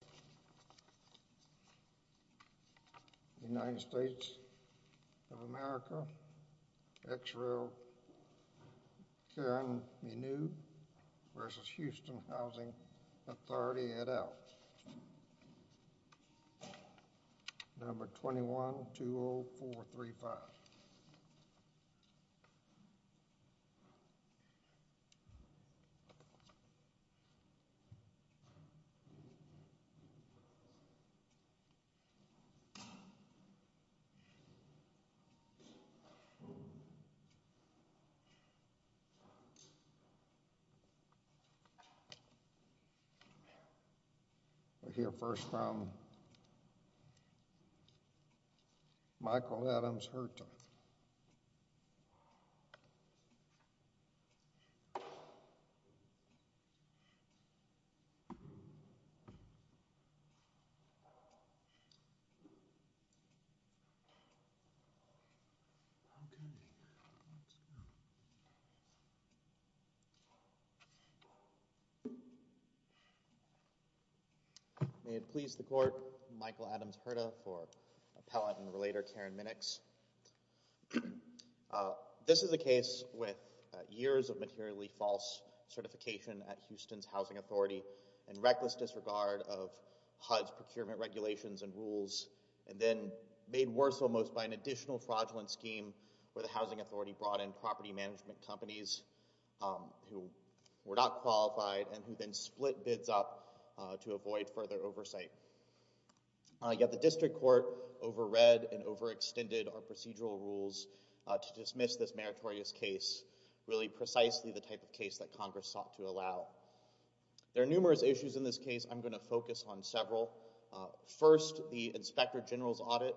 Number 21-20435 United States of America, Ex-Royal Karen Minoude v. Houston Housing Authority Let's see it out. Number 21-20435. We'll hear first from Michael Adams, her title. May it please the Court, Michael Adams Hurta for Appellant and Relator Karen Minix. This is a case with years of materially false certification at Houston's Housing Authority in reckless disregard of HUD's procurement regulations and rules, and then made worse almost by an additional fraudulent scheme where the Housing Authority brought in property management companies who were not qualified and who then split bids up to avoid further oversight. Yet the District Court over-read and over-extended our procedural rules to dismiss this meritorious case, really precisely the type of case that Congress sought to allow. There are numerous issues in this case. I'm going to focus on several. First, the Inspector General's audit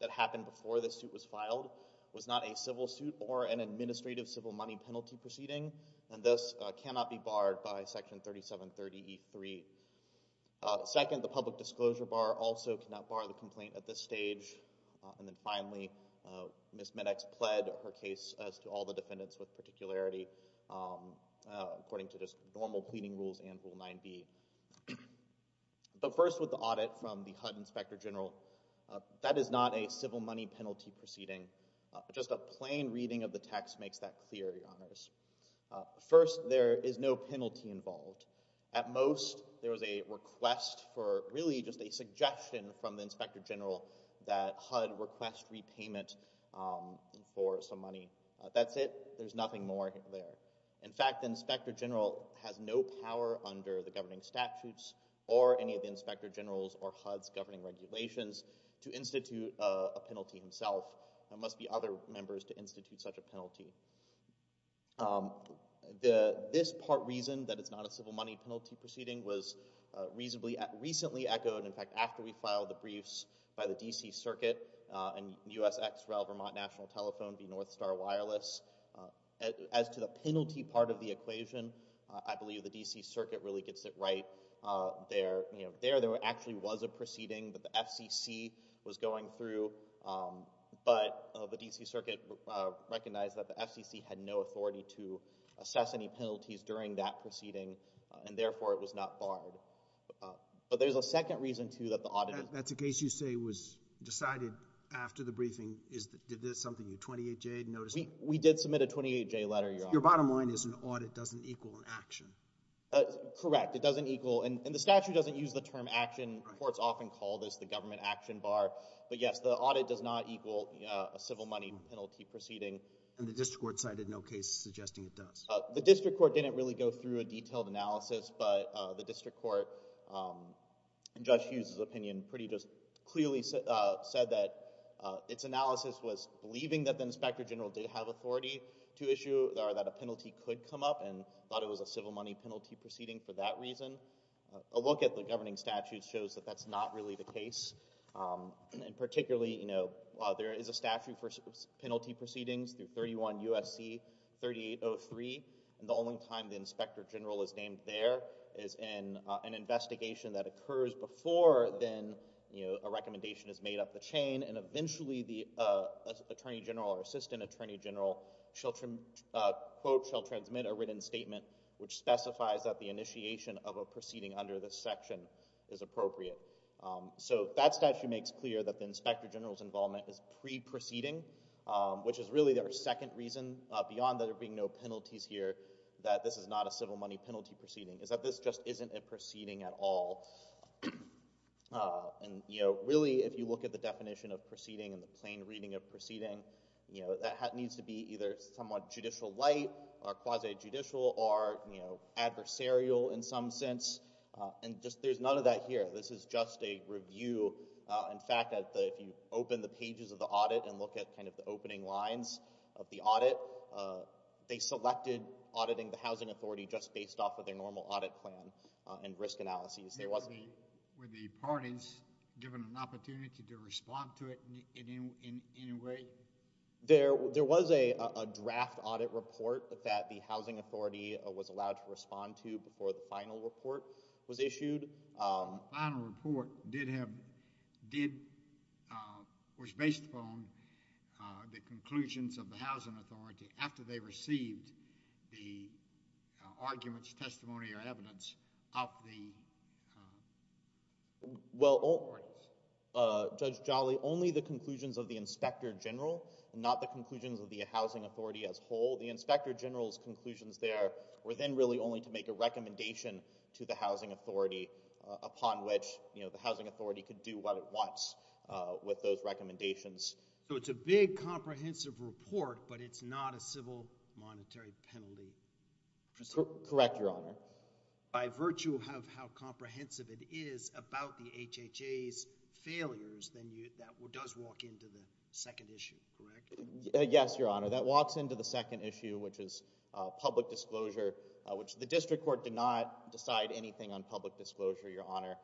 that happened before the suit was filed was not a civil suit or an administrative civil money penalty proceeding, and thus cannot be barred by Section 3730E3. Second, the public disclosure bar also cannot bar the complaint at this stage. And then finally, Ms. Minix pled her case as to all the defendants with particularity according to just normal pleading rules and Rule 9b. But first with the audit from the HUD Inspector General, that is not a civil money penalty proceeding. Just a plain reading of the text makes that clear, Your Honors. First, there is no penalty involved. At most, there was a request for really just a suggestion from the Inspector General that HUD request repayment for some money. That's it. There's nothing more there. In fact, the Inspector General has no power under the governing statutes or any of the Inspector General's or HUD's governing regulations to institute a penalty himself. There must be other members to institute such a penalty. This part reason that it's not a civil money penalty proceeding was recently echoed, in fact, after we filed the briefs by the D.C. Circuit and U.S. Ex-Rel Vermont National Telephone v. North Star Wireless. As to the penalty part of the equation, I believe the D.C. Circuit really gets it right there. There actually was a proceeding that the FCC was going through, but the D.C. Circuit recognized that the FCC had no authority to assess any penalties during that proceeding, and therefore it was not barred. But there's a second reason, too, that the audit is— That's a case you say was decided after the briefing. Is this something your 28J had noticed? We did submit a 28J letter, Your Honor. Your bottom line is an audit doesn't equal an action. Correct. It doesn't equal—and the statute doesn't use the term action. Courts often call this the government action bar. But yes, the audit does not equal a civil money penalty proceeding. And the district court cited no case suggesting it does. The district court didn't really go through a detailed analysis, but the district court, in Judge Hughes' opinion, pretty just clearly said that its analysis was believing that the Inspector General did have authority to issue—or that a penalty could come up and thought it was a civil money penalty proceeding for that reason. A look at the governing statute shows that that's not really the case. And particularly, you know, there is a statute for penalty proceedings through 31 U.S.C. 3803, and the only time the Inspector General is named there is in an investigation that occurs before then a recommendation is made up the chain, and eventually the Attorney General or Assistant Attorney General, quote, shall transmit a written statement which specifies that the initiation of a proceeding under this section is appropriate. So that statute makes clear that the Inspector General's involvement is pre-proceeding, which is really our second reason, beyond there being no penalties here, that this is not a civil money penalty proceeding, is that this just isn't a proceeding at all. And, you know, really if you look at the definition of proceeding and the plain reading of proceeding, you know, that needs to be either somewhat judicial light or quasi-judicial or, you know, adversarial in some sense. And there's none of that here. This is just a review. In fact, if you open the pages of the audit and look at kind of the opening lines of the audit, they selected auditing the housing authority just based off of their normal audit plan and risk analyses. Were the parties given an opportunity to respond to it in any way? There was a draft audit report that the housing authority was allowed to respond to before the final report was issued. The final report was based upon the conclusions of the housing authority after they received the arguments, testimony, or evidence of the parties. Well, Judge Jolly, only the conclusions of the inspector general and not the conclusions of the housing authority as a whole. The inspector general's conclusions there were then really only to make a recommendation to the housing authority upon which, you know, the housing authority could do what it wants with those recommendations. So it's a big comprehensive report, but it's not a civil monetary penalty? Correct, Your Honor. By virtue of how comprehensive it is about the HHA's failures, then that does walk into the second issue, correct? Yes, Your Honor. That walks into the second issue, which is public disclosure, which the district court did not decide anything on public disclosure, Your Honor.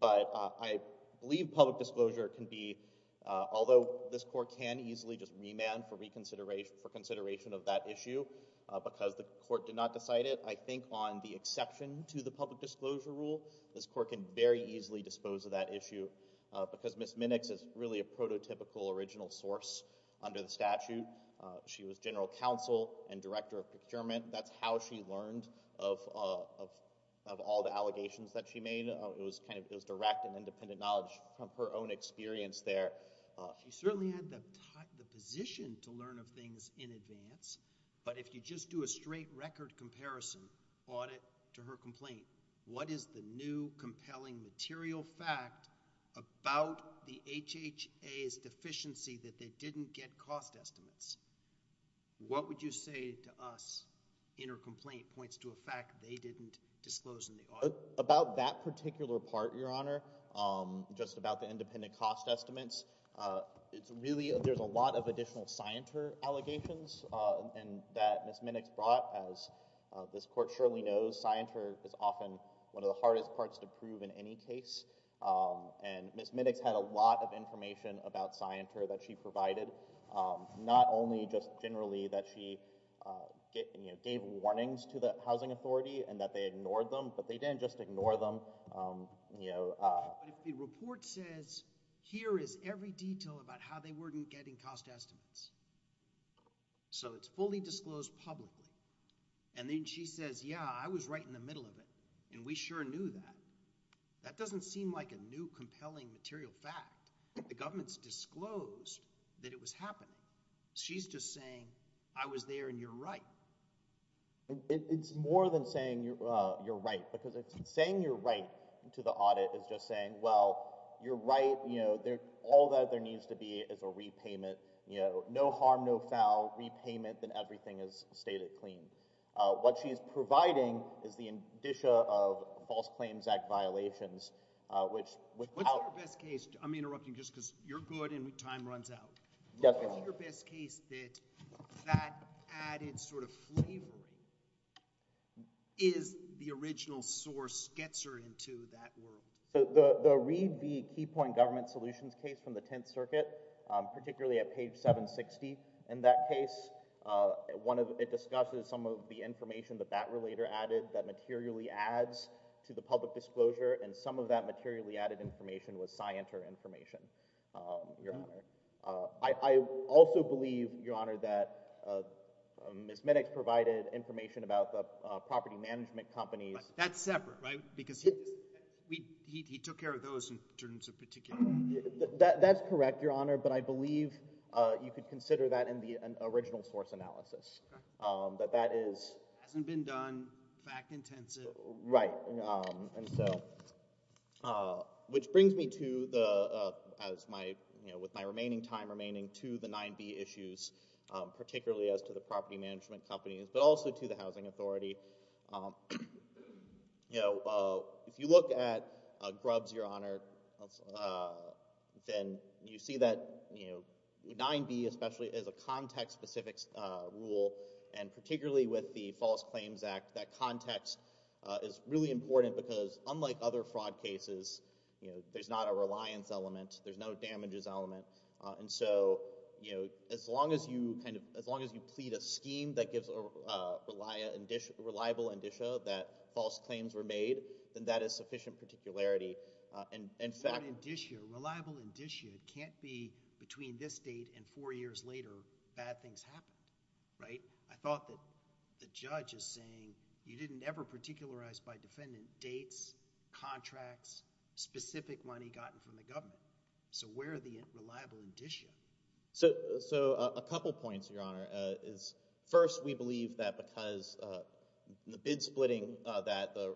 But I believe public disclosure can be, although this court can easily just remand for consideration of that issue because the court did not decide it, I think on the exception to the public disclosure rule, this court can very easily dispose of that issue because Ms. Minix is really a prototypical original source under the statute. She was general counsel and director of procurement. That's how she learned of all the allegations that she made. It was direct and independent knowledge from her own experience there. She certainly had the position to learn of things in advance, but if you just do a straight record comparison audit to her complaint, what is the new compelling material fact about the HHA's deficiency that they didn't get cost estimates? What would you say to us in her complaint points to a fact they didn't disclose in the audit? About that particular part, Your Honor, just about the independent cost estimates, it's really there's a lot of additional scienter allegations that Ms. Minix brought. As this court surely knows, scienter is often one of the hardest parts to prove in any case, and Ms. Minix had a lot of information about scienter that she provided, not only just generally that she gave warnings to the housing authority and that they ignored them, but they didn't just ignore them. The report says here is every detail about how they weren't getting cost estimates, so it's fully disclosed publicly, and then she says, yeah, I was right in the middle of it, and we sure knew that. That doesn't seem like a new compelling material fact. The government's disclosed that it was happening. She's just saying I was there and you're right. It's more than saying you're right because saying you're right to the audit is just saying, well, you're right. All that there needs to be is a repayment. No harm, no foul. Repayment, and everything is stated clean. What she's providing is the indicia of False Claims Act violations. What's your best case? I'm interrupting just because you're good and time runs out. What's your best case that that added sort of flavoring is the original source gets her into that world? The Read the Keypoint Government Solutions case from the Tenth Circuit, particularly at page 760 in that case, it discusses some of the information that that relator added that materially adds to the public disclosure and some of that materially added information was scienter information, Your Honor. I also believe, Your Honor, that Ms. Minnix provided information about the property management companies. But that's separate, right? Because he took care of those in terms of particular. That's correct, Your Honor, but I believe you could consider that in the original source analysis. Okay. That that is. Hasn't been done, fact intensive. Right. And so which brings me to the, as my, you know, with my remaining time remaining to the 9B issues, particularly as to the property management companies, but also to the housing authority. You know, if you look at Grubbs, Your Honor, then you see that, you know, 9B especially is a context-specific rule, and particularly with the False Claims Act, that context is really important because, unlike other fraud cases, you know, there's not a reliance element. There's no damages element. And so, you know, as long as you kind of, as long as you plead a scheme that gives a reliable indicia that false claims were made, then that is sufficient particularity. In fact, Reliable indicia can't be between this date and four years later, bad things happened, right? So I thought that the judge is saying you didn't ever particularize by defendant dates, contracts, specific money gotten from the government. So where are the reliable indicia? So a couple points, Your Honor. First, we believe that because the bid splitting that the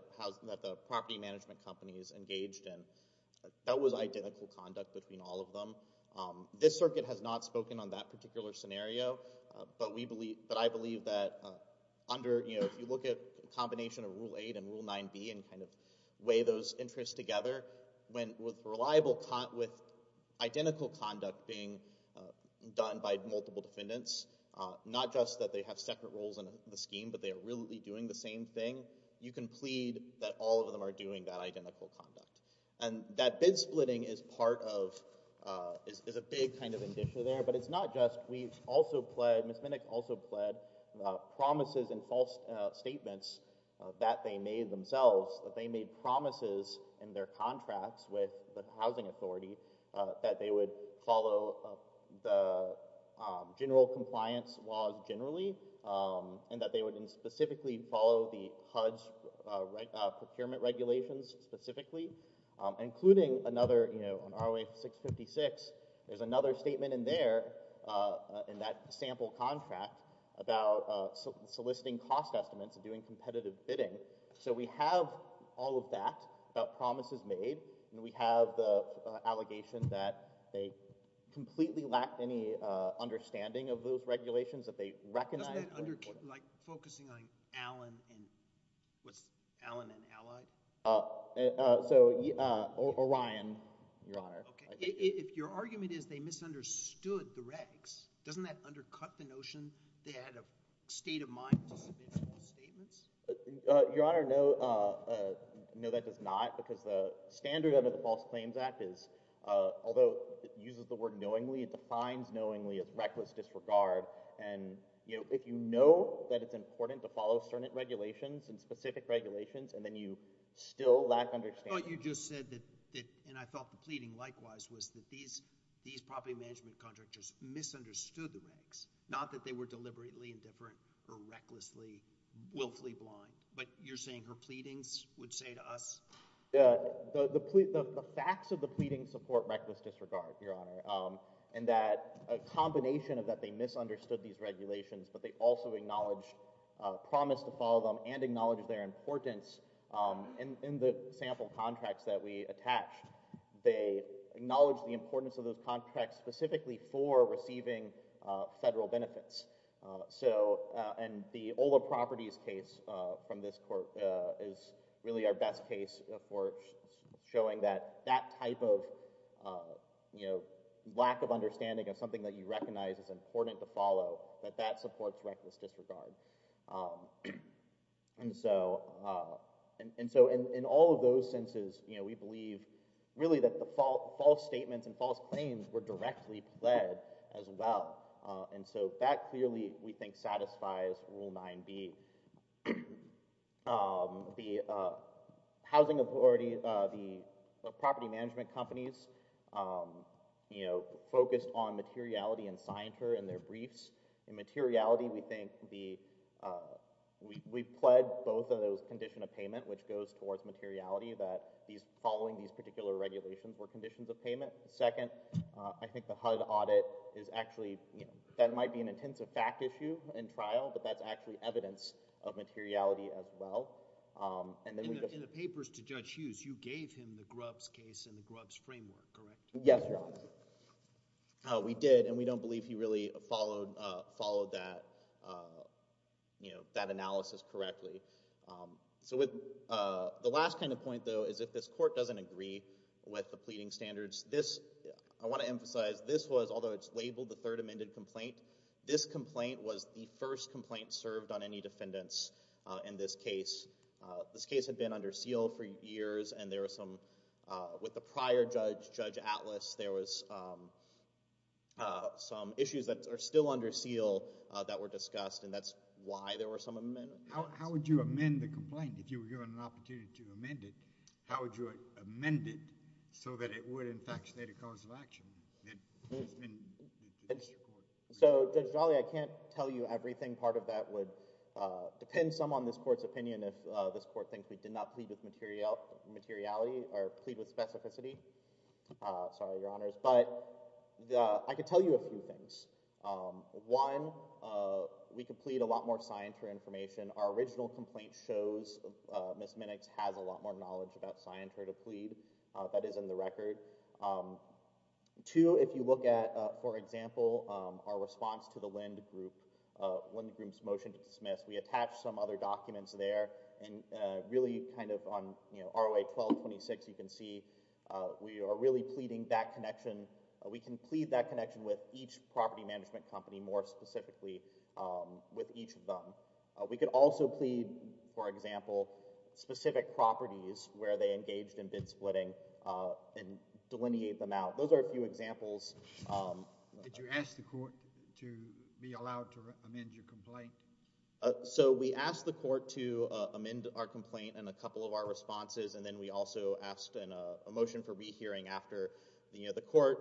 property management companies engaged in, that was identical conduct between all of them. This circuit has not spoken on that particular scenario, but I believe that under, you know, if you look at a combination of Rule 8 and Rule 9b and kind of weigh those interests together, with identical conduct being done by multiple defendants, not just that they have separate roles in the scheme, but they are really doing the same thing, you can plead that all of them are doing that identical conduct. And that bid splitting is part of, is a big kind of indicia there, but it's not just we also pled, Ms. Minnick also pled, promises and false statements that they made themselves, that they made promises in their contracts with the housing authority, that they would follow the general compliance laws generally, and that they would specifically follow the HUD's procurement regulations specifically, including another, you know, on ROA 656, there's another statement in there, in that sample contract, about soliciting cost estimates and doing competitive bidding. So we have all of that about promises made, and we have the allegation that they completely lacked any understanding of those regulations that they recognized. Doesn't that under, like focusing on Allen and, what's Allen and Ally? So, Orion, Your Honor. If your argument is they misunderstood the regs, doesn't that undercut the notion they had a state of mind to submit false statements? Your Honor, no, that does not, because the standard under the False Claims Act is, although it uses the word knowingly, it defines knowingly as reckless disregard. And, you know, if you know that it's important to follow certain regulations and specific regulations, and then you still lack understanding. I thought you just said that, and I thought the pleading likewise, was that these property management contractors misunderstood the regs, not that they were deliberately indifferent or recklessly, willfully blind. But you're saying her pleadings would say to us? The facts of the pleadings support reckless disregard, Your Honor, in that a combination of that they misunderstood these regulations, but they also acknowledged promise to follow them and acknowledged their importance in the sample contracts that we attached. They acknowledged the importance of those contracts specifically for receiving federal benefits. So, and the Ola Properties case from this court is really our best case for showing that that type of, you know, lack of understanding of something that you recognize is important to follow, that that supports reckless disregard. And so in all of those senses, you know, we believe really that the false statements and false claims were directly pled as well. And so that clearly, we think, satisfies Rule 9b. The housing authority, the property management companies, you know, focused on materiality and scienter and their briefs. In materiality, we think the, we pled both of those condition of payment, which goes towards materiality, that following these particular regulations were conditions of payment. Second, I think the HUD audit is actually, you know, that might be an intensive fact issue in trial, but that's actually evidence of materiality as well. And then we just— In the papers to Judge Hughes, you gave him the Grubbs case and the Grubbs framework, correct? Yes, Your Honor. We did, and we don't believe he really followed that, you know, that analysis correctly. So the last kind of point, though, is if this court doesn't agree with the pleading standards, this, I want to emphasize, this was, although it's labeled the third amended complaint, this complaint was the first complaint served on any defendants in this case. This case had been under seal for years, and there were some, with the prior judge, Judge Atlas, there was some issues that are still under seal that were discussed, and that's why there were some amendments. How would you amend the complaint, if you were given an opportunity to amend it? How would you amend it so that it would, in fact, state a cause of action? So, Judge Jolly, I can't tell you everything. Part of that would depend some on this court's opinion if this court thinks we did not plead with materiality or plead with specificity. Sorry, Your Honors. But I can tell you a few things. One, we could plead a lot more scienter information. Our original complaint shows Ms. Minnix has a lot more knowledge about scienter to plead. That is in the record. Two, if you look at, for example, our response to the Lind Group, Lind Group's motion to dismiss, we attached some other documents there, and really kind of on ROA 1226, you can see, we are really pleading that connection. We can plead that connection with each property management company more specifically with each of them. We could also plead, for example, specific properties where they engaged in bid splitting and delineate them out. Those are a few examples. Did you ask the court to be allowed to amend your complaint? So we asked the court to amend our complaint and a couple of our responses, and then we also asked a motion for rehearing after the court.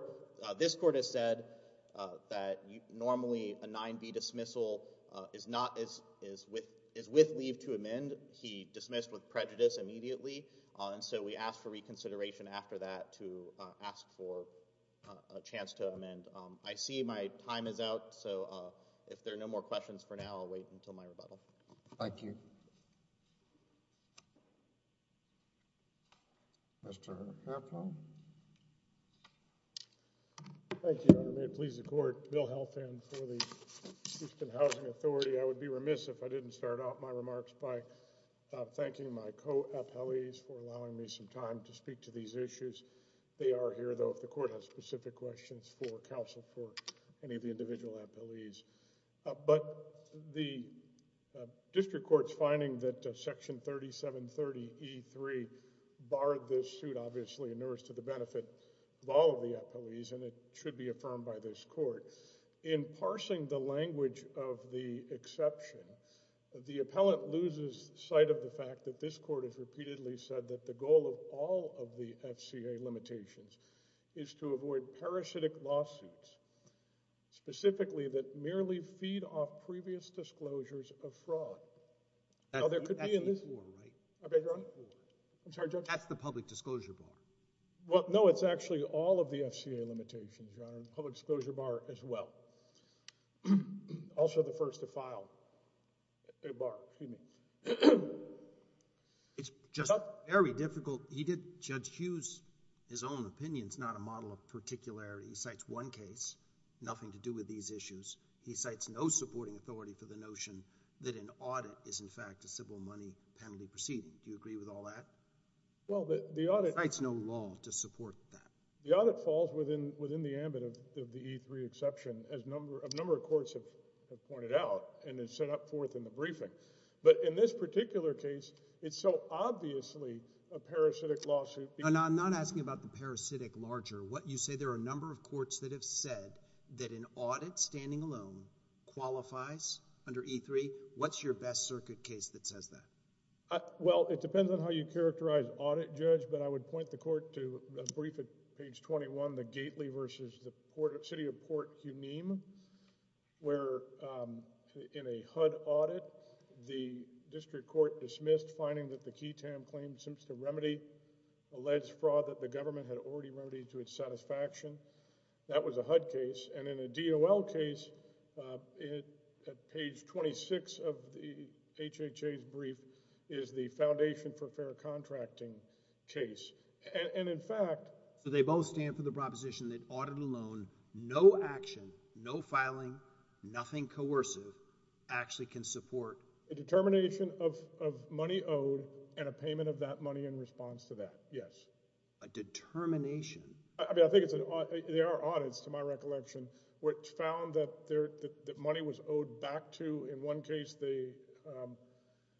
This court has said that normally a 9B dismissal is with leave to amend. He dismissed with prejudice immediately, and so we asked for reconsideration after that to ask for a chance to amend. I see my time is out, so if there are no more questions for now, I'll wait until my rebuttal. Thank you. Mr. Appel? Thank you, Your Honor. May it please the court, Bill Helfand for the Houston Housing Authority. I would be remiss if I didn't start off my remarks by thanking my co-appellees for allowing me some time to speak to these issues. They are here, though, if the court has specific questions for counsel or for any of the individual appellees. But the district court's finding that Section 3730E3 barred this suit, obviously in earnest to the benefit of all of the appellees, and it should be affirmed by this court. In parsing the language of the exception, the appellant loses sight of the fact that this court has repeatedly said that the goal of all of the FCA limitations is to avoid parasitic lawsuits, specifically that merely feed off previous disclosures of fraud. That's the public disclosure bar. No, it's actually all of the FCA limitations, Your Honor, the public disclosure bar as well. Also the first to file a bar. Excuse me. It's just very difficult. Judge Hughes, his own opinion is not a model of particularity. He cites one case, nothing to do with these issues. He cites no supporting authority for the notion that an audit is, in fact, a civil money penalty proceeding. Do you agree with all that? He cites no law to support that. The audit falls within the ambit of the E3 exception, as a number of courts have pointed out and has set up forth in the briefing. But in this particular case, it's so obviously a parasitic lawsuit. I'm not asking about the parasitic larger. You say there are a number of courts that have said that an audit standing alone qualifies under E3. What's your best circuit case that says that? Well, it depends on how you characterize audit, Judge, but I would point the court to a brief at page 21, from the Gately versus the City of Port Huneim, where in a HUD audit, the district court dismissed finding that the KeyTam claim seems to remedy alleged fraud that the government had already remedied to its satisfaction. That was a HUD case. And in a DOL case, at page 26 of the HHA's brief, is the Foundation for Fair Contracting case. So they both stand for the proposition that audit alone, no action, no filing, nothing coercive, actually can support? A determination of money owed and a payment of that money in response to that, yes. A determination? There are audits, to my recollection, which found that money was owed back to, in one case, the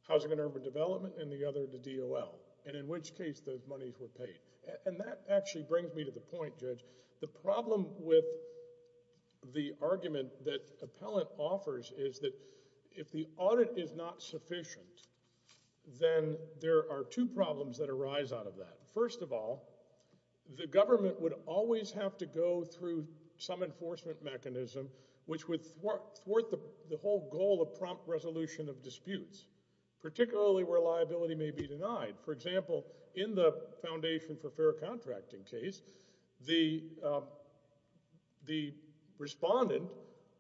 Housing and Urban Development and in the other, the DOL. And in which case, those monies were paid. And that actually brings me to the point, Judge, the problem with the argument that Appellant offers is that if the audit is not sufficient, then there are two problems that arise out of that. First of all, the government would always have to go through some enforcement mechanism which would thwart the whole goal of prompt resolution of disputes, particularly where liability may be denied. For example, in the Foundation for Fair Contracting case, the respondent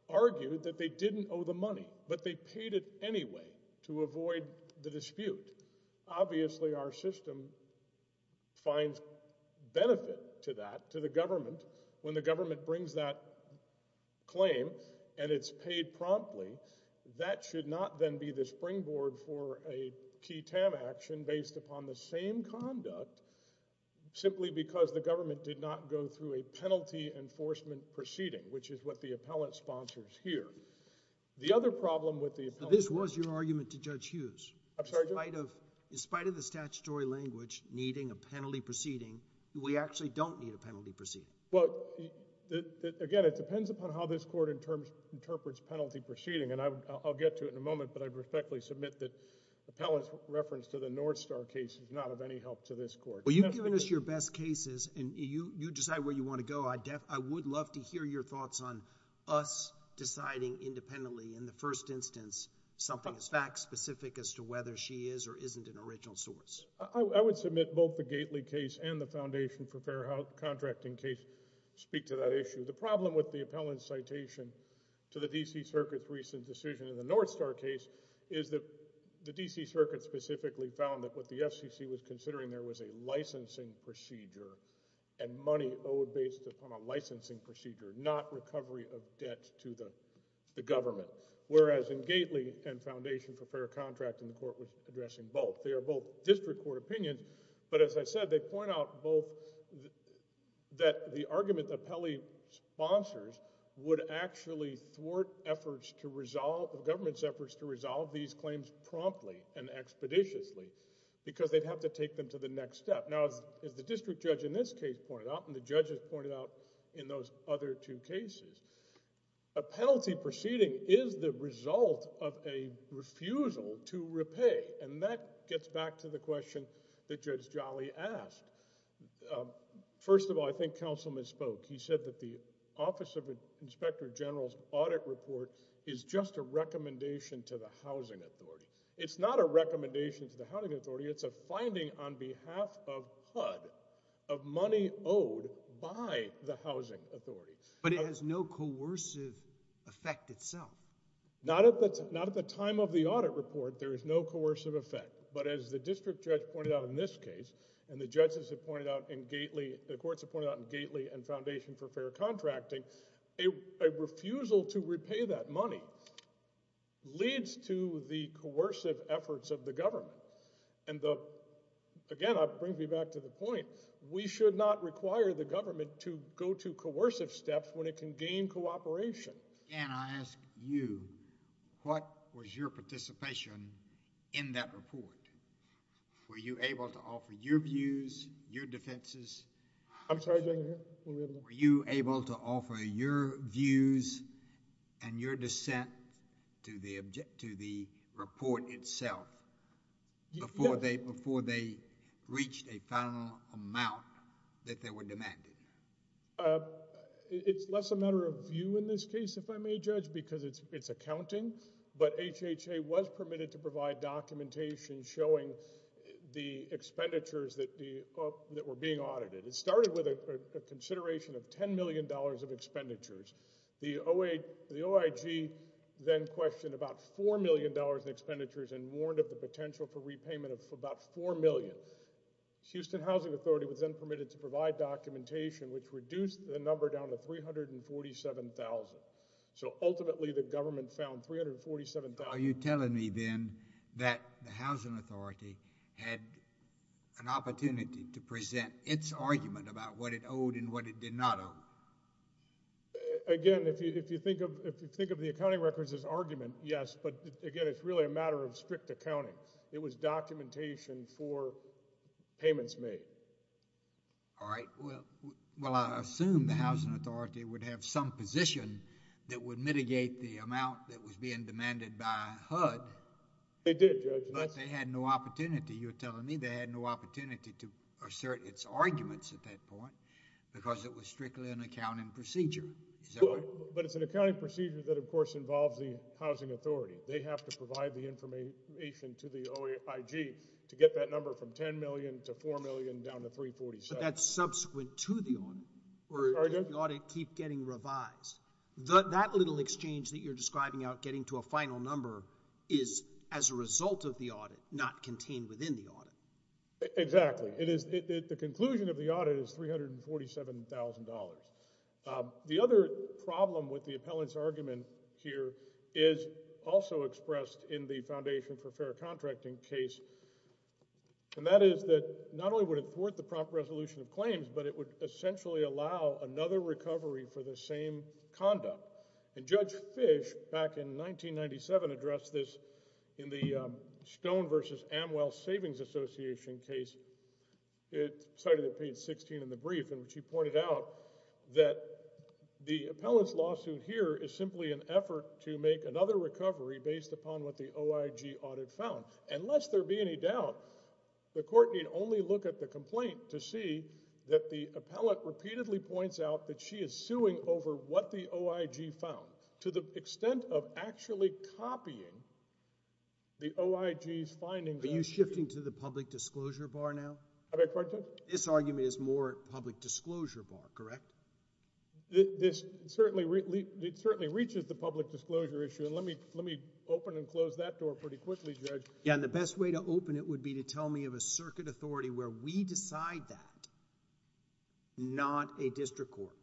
argued that they didn't owe the money, but they paid it anyway to avoid the dispute. Obviously, our system finds benefit to that, to the government. When the government brings that claim and it's paid promptly, that should not then be the springboard for a key TAM action based upon the same conduct simply because the government did not go through a penalty enforcement proceeding, which is what the Appellant sponsors here. The other problem with the Appellant – But this was your argument to Judge Hughes. I'm sorry, Judge? In spite of the statutory language needing a penalty proceeding, we actually don't need a penalty proceeding. Again, it depends upon how this court interprets penalty proceeding. I'll get to it in a moment, but I respectfully submit that Appellant's reference to the North Star case is not of any help to this court. Well, you've given us your best cases, and you decide where you want to go. I would love to hear your thoughts on us deciding independently in the first instance something is fact-specific as to whether she is or isn't an original source. I would submit both the Gately case and the Foundation for Fair Contracting case speak to that issue. The problem with the Appellant's citation to the D.C. Circuit's recent decision in the North Star case is that the D.C. Circuit specifically found that what the FCC was considering there was a licensing procedure and money owed based upon a licensing procedure, not recovery of debt to the government, whereas in Gately and Foundation for Fair Contracting, the court was addressing both. They are both district court opinions, but as I said, they point out both that the argument that Appellee sponsors would actually thwart efforts to resolve, the government's efforts to resolve these claims promptly and expeditiously because they'd have to take them to the next step. Now, as the district judge in this case pointed out and the judges pointed out in those other two cases, a penalty proceeding is the result of a refusal to repay, and that gets back to the question that Judge Jolly asked. First of all, I think Councilman spoke. He said that the Office of Inspector General's audit report is just a recommendation to the Housing Authority. It's not a recommendation to the Housing Authority. It's a finding on behalf of HUD of money owed by the Housing Authority. But it has no coercive effect itself. Not at the time of the audit report, there is no coercive effect, but as the district judge pointed out in this case and the judges have pointed out in Gately, the courts have pointed out in Gately and Foundation for Fair Contracting, a refusal to repay that money leads to the coercive efforts of the government. And again, it brings me back to the point, we should not require the government to go to coercive steps when it can gain cooperation. Judge, can I ask you, what was your participation in that report? Were you able to offer your views, your defenses... Were you able to offer your views and your dissent to the report itself, before they reached a final amount that they were demanded. It's less a matter of view in this case, if I may judge, because it's accounting. But HHA was permitted to provide documentation showing the expenditures that were being audited. It started with a consideration of $10 million of expenditures. The OIG then questioned about $4 million in expenditures and warned of the potential for repayment of about $4 million. Houston Housing Authority was then permitted to provide documentation, which reduced the number down to $347,000. So ultimately, the government found $347,000... Are you telling me then that the Housing Authority had an opportunity to present its argument about what it owed and what it did not owe? Again, if you think of the accounting records as argument, yes. But again, it's really a matter of strict accounting. It was documentation for payments made. All right. Well, I assume the Housing Authority would have some position that would mitigate the amount that was being demanded by HUD. They did, Judge. But they had no opportunity. You're telling me they had no opportunity to assert its arguments at that point, because it was strictly an accounting procedure. Is that right? But it's an accounting procedure that, of course, involves the Housing Authority. They have to provide the information to the OIG to get that number from $10 million to $4 million down to $347,000. But that's subsequent to the audit. Sorry, Judge? Or does the audit keep getting revised? That little exchange that you're describing out getting to a final number is as a result of the audit, not contained within the audit. Exactly. The conclusion of the audit is $347,000. The other problem with the appellant's argument here is also expressed in the Foundation for Fair Contracting case, and that is that not only would it thwart the prompt resolution of claims, but it would essentially allow another recovery for the same conduct. And Judge Fish, back in 1997, addressed this in the Stone v. Amwell Savings Association case. It's cited at page 16 in the brief in which he pointed out that the appellant's lawsuit here is simply an effort to make another recovery based upon what the OIG audit found. Unless there be any doubt, the court need only look at the complaint to see that the appellant repeatedly points out that she is suing over what the OIG found, to the extent of actually copying the OIG's findings. Are you shifting to the public disclosure bar now? I beg your pardon, Judge? This argument is more public disclosure bar, correct? This certainly reaches the public disclosure issue, and let me open and close that door pretty quickly, Judge. Yeah, and the best way to open it would be to tell me of a circuit authority where we decide that, not a district court.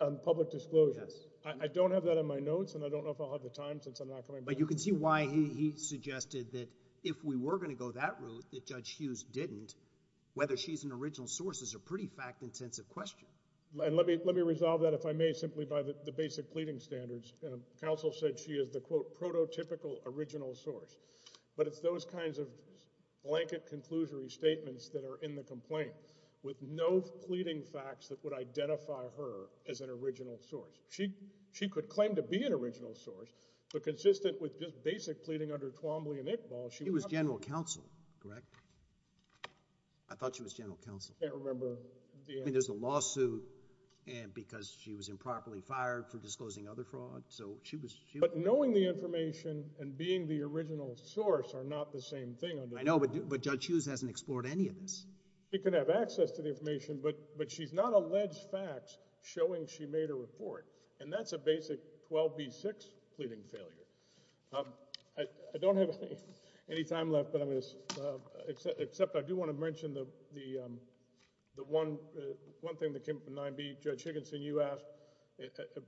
On public disclosure? Yes. I don't have that on my notes, and I don't know if I'll have the time since I'm not coming back. But you can see why he suggested that if we were going to go that route, that Judge Hughes didn't, whether she's an original source is a pretty fact-intensive question. Let me resolve that, if I may, simply by the basic pleading standards. Counsel said she is the, quote, prototypical original source. But it's those kinds of blanket conclusory statements that are in the complaint with no pleading facts that would identify her as an original source. She could claim to be an original source, but consistent with just basic pleading under Twombly and Iqbal, she was not— She was general counsel, correct? I thought she was general counsel. I can't remember the answer. I mean, there's a lawsuit because she was improperly fired for disclosing other fraud, so she was— But knowing the information and being the original source are not the same thing under— I know, but Judge Hughes hasn't explored any of this. She could have access to the information, but she's not alleged facts showing she made a report, and that's a basic 12b-6 pleading failure. I don't have any time left, but I'm going to— Except I do want to mention the one thing that came up in 9b. Judge Higginson, you asked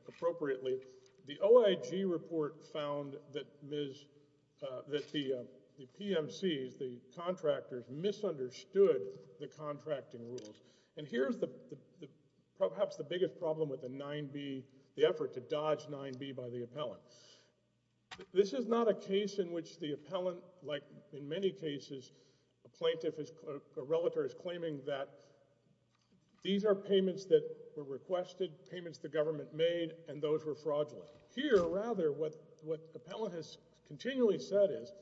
appropriately. The OIG report found that the PMCs, the contractors, misunderstood the contracting rules, and here's perhaps the biggest problem with the 9b, the effort to dodge 9b by the appellant. This is not a case in which the appellant, like in many cases, a plaintiff, a relative, is claiming that these are payments that were requested, payments the government made, and those were fraudulent. Here, rather, what the appellant has continually said is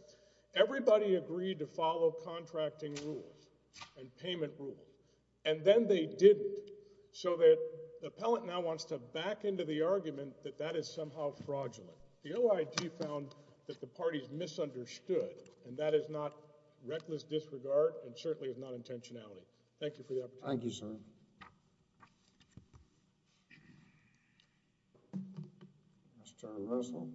everybody agreed to follow contracting rules and payment rules, and then they didn't, so that the appellant now wants to back into the argument that that is somehow fraudulent. The OIG found that the parties misunderstood, and that is not reckless disregard and certainly is not intentionality. Thank you for the opportunity. Thank you, sir. Mr. Allen Russell.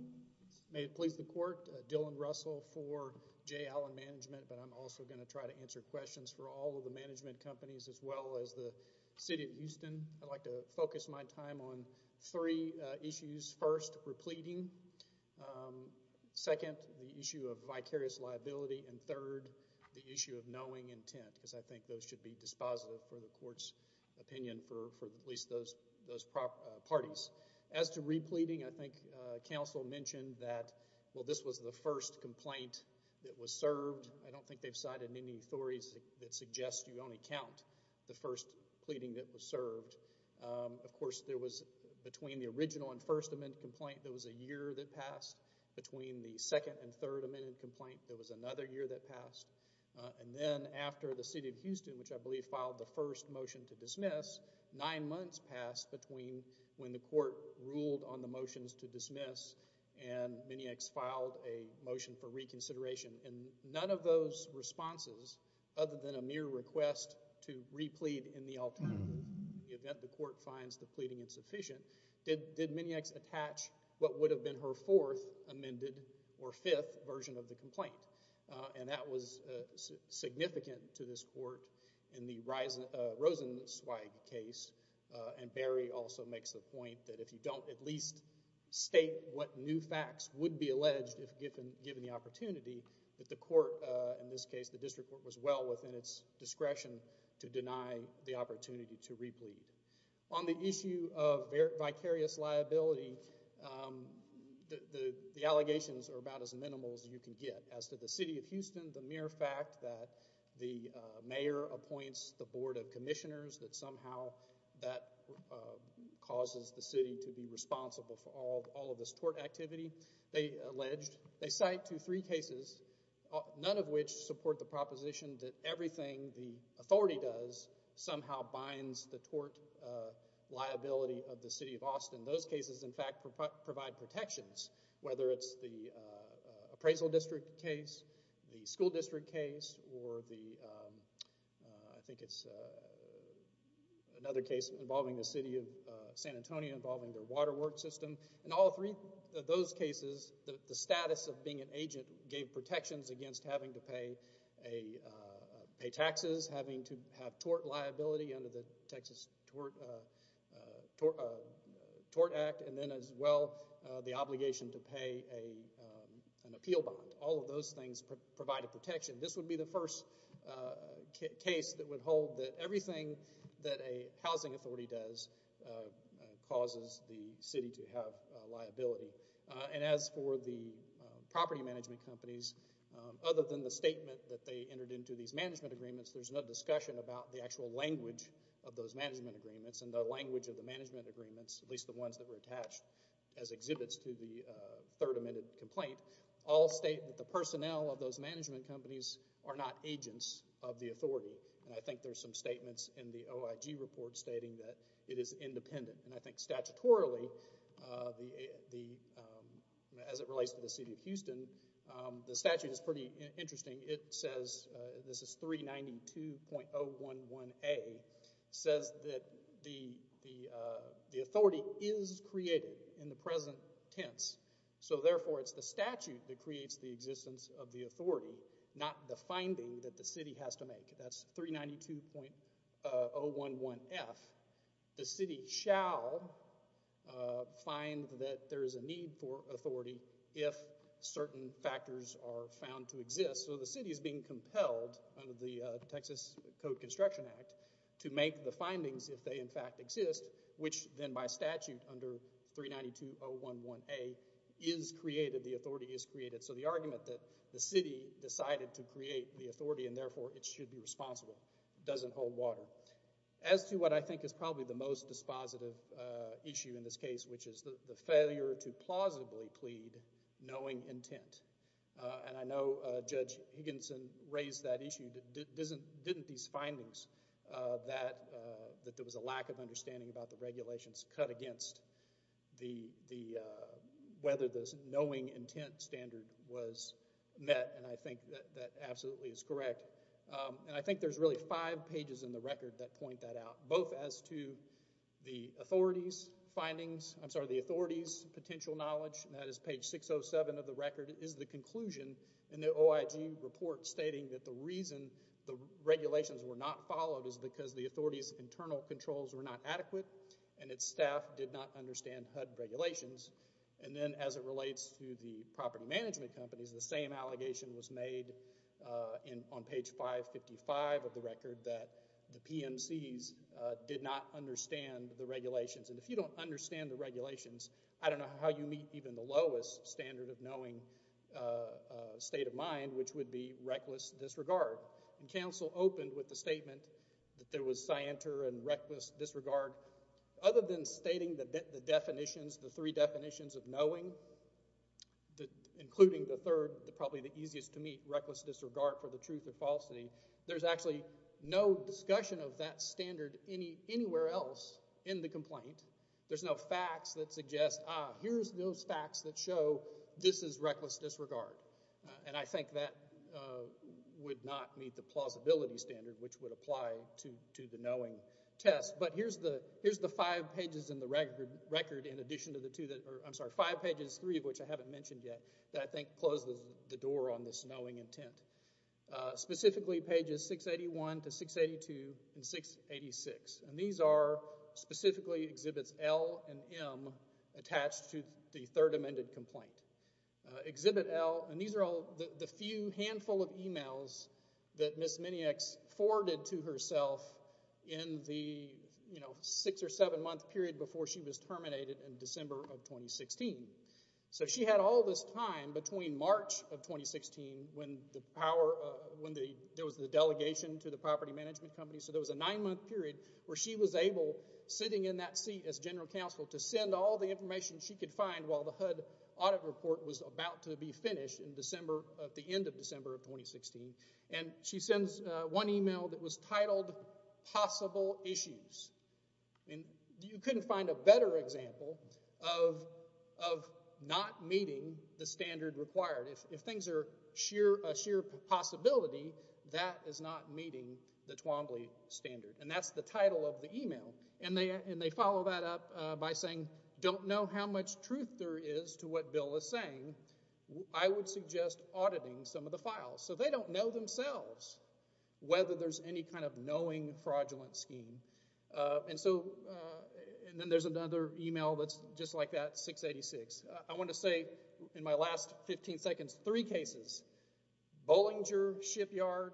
May it please the court, Dylan Russell for J. Allen Management, but I'm also going to try to answer questions for all of the management companies as well as the city of Houston. I'd like to focus my time on three issues. First, repleting. Second, the issue of vicarious liability. And third, the issue of knowing intent because I think those should be dispositive for the court's opinion for at least those parties. As to repleting, I think counsel mentioned that, well, this was the first complaint that was served. I don't think they've cited any authorities that suggest you only count the first pleading that was served. Of course, there was, between the original and first amendment complaint, there was a year that passed. Between the second and third amendment complaint, there was another year that passed. And then after the city of Houston, which I believe filed the first motion to dismiss, nine months passed between when the court ruled on the motions to dismiss and Miniax filed a motion for reconsideration. And none of those responses, other than a mere request to replete in the alternative, in the event the court finds the pleading insufficient, did Miniax attach what would have been her fourth amended or fifth version of the complaint. And that was significant to this court in the Rosenzweig case. And Barry also makes the point that if you don't at least state what new facts would be alleged if given the opportunity, that the court, in this case the district court, was well within its discretion to deny the opportunity to replete. On the issue of vicarious liability, the allegations are about as minimal as you can get. As to the city of Houston, the mere fact that the mayor appoints the board of commissioners, that somehow that causes the city to be responsible for all of this tort activity they alleged. They cite to three cases, none of which support the proposition that everything the authority does somehow binds the tort liability of the city of Austin. Those cases, in fact, provide protections, whether it's the appraisal district case, the school district case, or the, I think it's another case involving the city of San Antonio involving their water work system. In all three of those cases, the status of being an agent gave protections against having to pay taxes, having to have tort liability under the Texas Tort Act, and then as well the obligation to pay an appeal bond. All of those things provide a protection. This would be the first case that would hold that everything that a housing authority does causes the city to have liability. As for the property management companies, other than the statement that they entered into these management agreements, there's no discussion about the actual language of those management agreements and the language of the management agreements, at least the ones that were attached as exhibits to the Third Amendment complaint. All state that the personnel of those management companies are not agents of the authority, and I think there's some statements in the OIG report stating that it is independent, and I think statutorily, as it relates to the city of Houston, the statute is pretty interesting. It says, this is 392.011A, says that the authority is created in the present tense, so therefore it's the statute that creates the existence of the authority, not the finding that the city has to make. That's 392.011F. The city shall find that there is a need for authority if certain factors are found to exist, so the city is being compelled under the Texas Code Construction Act to make the findings if they in fact exist, which then by statute under 392.011A is created, the authority is created, so the argument that the city decided to create the authority and therefore it should be responsible doesn't hold water. As to what I think is probably the most dispositive issue in this case, which is the failure to plausibly plead knowing intent, and I know Judge Higginson raised that issue, didn't these findings that there was a lack of understanding about the regulations cut against whether the knowing intent standard was met, and I think that absolutely is correct, and I think there's really five pages in the record that point that out, both as to the authority's findings, I'm sorry, the authority's potential knowledge, and that is page 607 of the record is the conclusion in the OIG report stating that the reason the regulations were not followed is because the authority's internal controls were not adequate and its staff did not understand HUD regulations, and then as it relates to the property management companies, the same allegation was made on page 555 of the record that the PMCs did not understand the regulations, and if you don't understand the regulations, I don't know how you meet even the lowest standard of knowing state of mind, which would be reckless disregard, and counsel opened with the statement that there was scienter and reckless disregard. Other than stating the definitions, the three definitions of knowing, including the third, probably the easiest to meet, reckless disregard for the truth or falsity, there's actually no discussion of that standard anywhere else in the complaint. There's no facts that suggest, ah, here's those facts that show this is reckless disregard, and I think that would not meet the plausibility standard, which would apply to the knowing test, but here's the five pages in the record in addition to the two that are, I'm sorry, five pages, three of which I haven't mentioned yet that I think close the door on this knowing intent. Specifically pages 681 to 682 and 686, and these are specifically exhibits L and M attached to the third amended complaint. Exhibit L, and these are all the few handful of emails that Ms. Miniaks forwarded to herself in the, you know, six or seven month period before she was terminated in December of 2016. So she had all this time between March of 2016 when the power, when there was the delegation to the property management company, so there was a nine month period where she was able, sitting in that seat as general counsel, to send all the information she could find while the HUD audit report was about to be finished in December, at the end of December of 2016, and she sends one email that was titled, possible issues. You couldn't find a better example of not meeting the standard required. If things are a sheer possibility, that is not meeting the Twombly standard, and that's the title of the email, and they follow that up by saying, don't know how much truth there is to what Bill is saying. I would suggest auditing some of the files. So they don't know themselves whether there's any kind of knowing fraudulent scheme. And so, and then there's another email that's just like that, 686. I want to say in my last 15 seconds, three cases, Bollinger, Shipyard,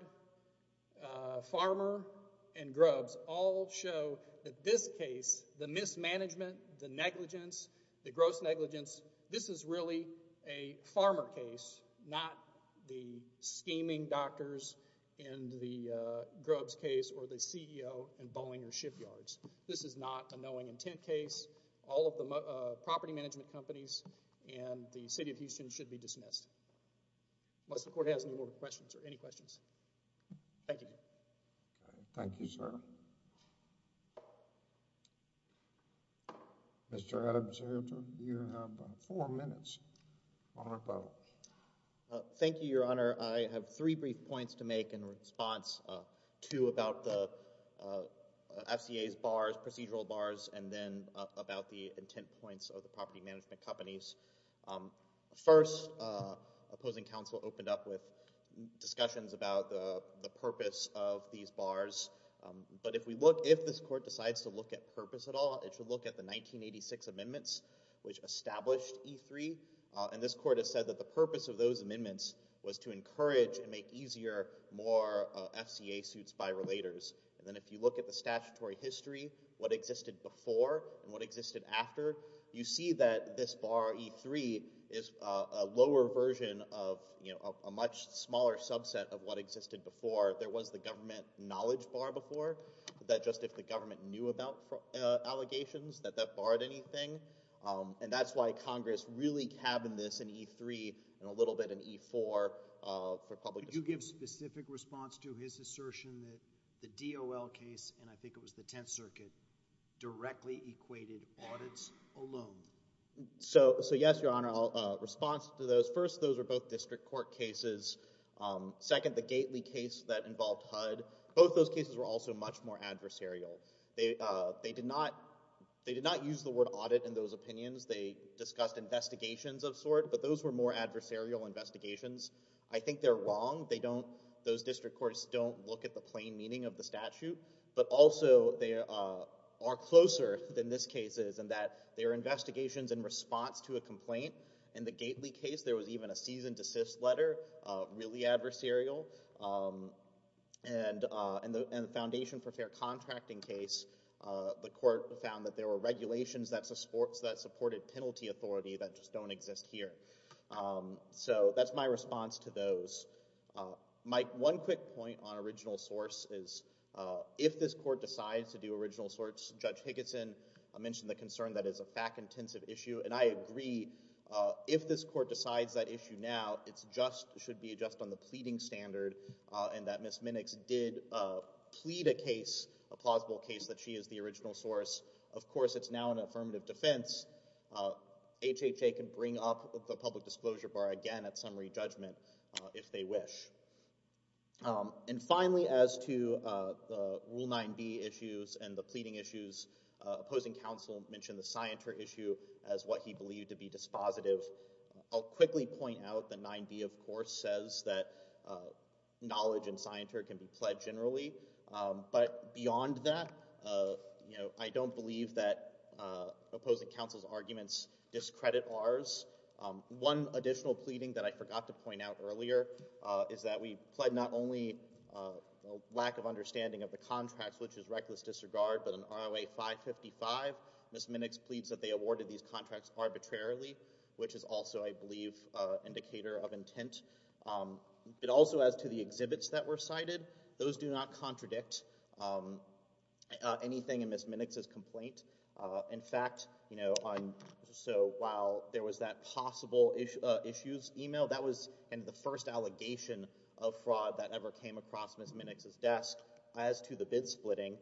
Farmer, and Grubbs, all show that this case, the mismanagement, the negligence, the gross negligence, this is really a Farmer case, not the scheming doctors in the Grubbs case, or the CEO in Bollinger, Shipyards. This is not a knowing intent case. All of the property management companies and the city of Houston should be dismissed. Unless the court has any more questions, or any questions. Thank you. Thank you, sir. Mr. Adams, you have four minutes on the clock. Thank you, Your Honor. I have three brief points to make in response to about the FCA's bars, procedural bars, and then about the intent points of the property management companies. First, opposing counsel opened up with discussions about the purpose of these bars. But if we look, if this court decides to look at purpose at all, it should look at the 1986 amendments, which established E3, and this court has said that the purpose of those amendments was to encourage and make easier more FCA suits by relators. And then if you look at the statutory history, what existed before and what existed after, you see that this bar, E3, is a lower version of a much smaller subset of what existed before. There was the government knowledge bar before, that just if the government knew about allegations, that that barred anything. And that's why Congress really cabined this in E3 and a little bit in E4 for public discussion. Could you give specific response to his assertion that the DOL case, and I think it was the Tenth Circuit, directly equated audits alone? So, yes, Your Honor. I'll respond to those. First, those were both district court cases. Second, the Gately case that involved HUD, both those cases were also much more adversarial. They did not use the word audit in those opinions. They discussed investigations of sorts, but those were more adversarial investigations. I think they're wrong. Those district courts don't look at the plain meaning of the statute, but also they are closer than this case is in that they are investigations in response to a complaint. In the Gately case, there was even a cease and desist letter, really adversarial. And in the Foundation for Fair Contracting case, the court found that there were regulations that supported penalty authority that just don't exist here. So that's my response to those. Mike, one quick point on original source is if this court decides to do original source, Judge Higginson mentioned the concern that it's a FAC-intensive issue, and I agree. If this court decides that issue now, it should be just on the pleading standard and that Ms. Minnix did plead a case, a plausible case, that she is the original source. Of course, it's now an affirmative defense. HHA can bring up the public disclosure bar again at summary judgment if they wish. And finally, as to the Rule 9b issues and the pleading issues, opposing counsel mentioned the scienter issue as what he believed to be dispositive. I'll quickly point out that 9b, of course, says that knowledge and scienter can be pled generally. But beyond that, you know, I don't believe that opposing counsel's arguments discredit ours. One additional pleading that I forgot to point out earlier is that we pled not only lack of understanding of the contracts, which is reckless disregard, but in ROA 555, Ms. Minnix pleads that they awarded these contracts arbitrarily, which is also, I believe, an indicator of intent. It also adds to the exhibits that were cited. In fact, you know, so while there was that possible issues email, that was the first allegation of fraud that ever came across Ms. Minnix's desk as to the bid splitting.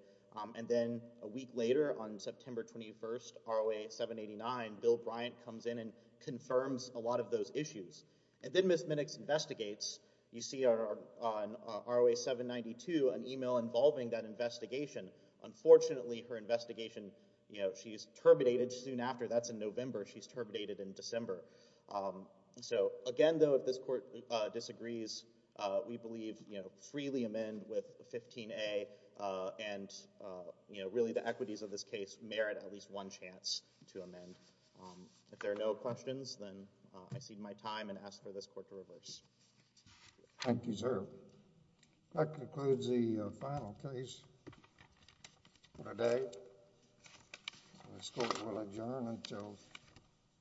And then a week later on September 21st, ROA 789, Bill Bryant comes in and confirms a lot of those issues. And then Ms. Minnix investigates. You see on ROA 792 an email involving that investigation. Unfortunately, her investigation, you know, she is terminated soon after. That's in November. She's terminated in December. So again, though, if this court disagrees, we believe, you know, freely amend with 15A. And, you know, really the equities of this case merit at least one chance to amend. If there are no questions, then I cede my time and ask for this court to reverse. Thank you, sir. That concludes the final case for today. This court will adjourn until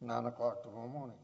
9 o'clock the whole morning.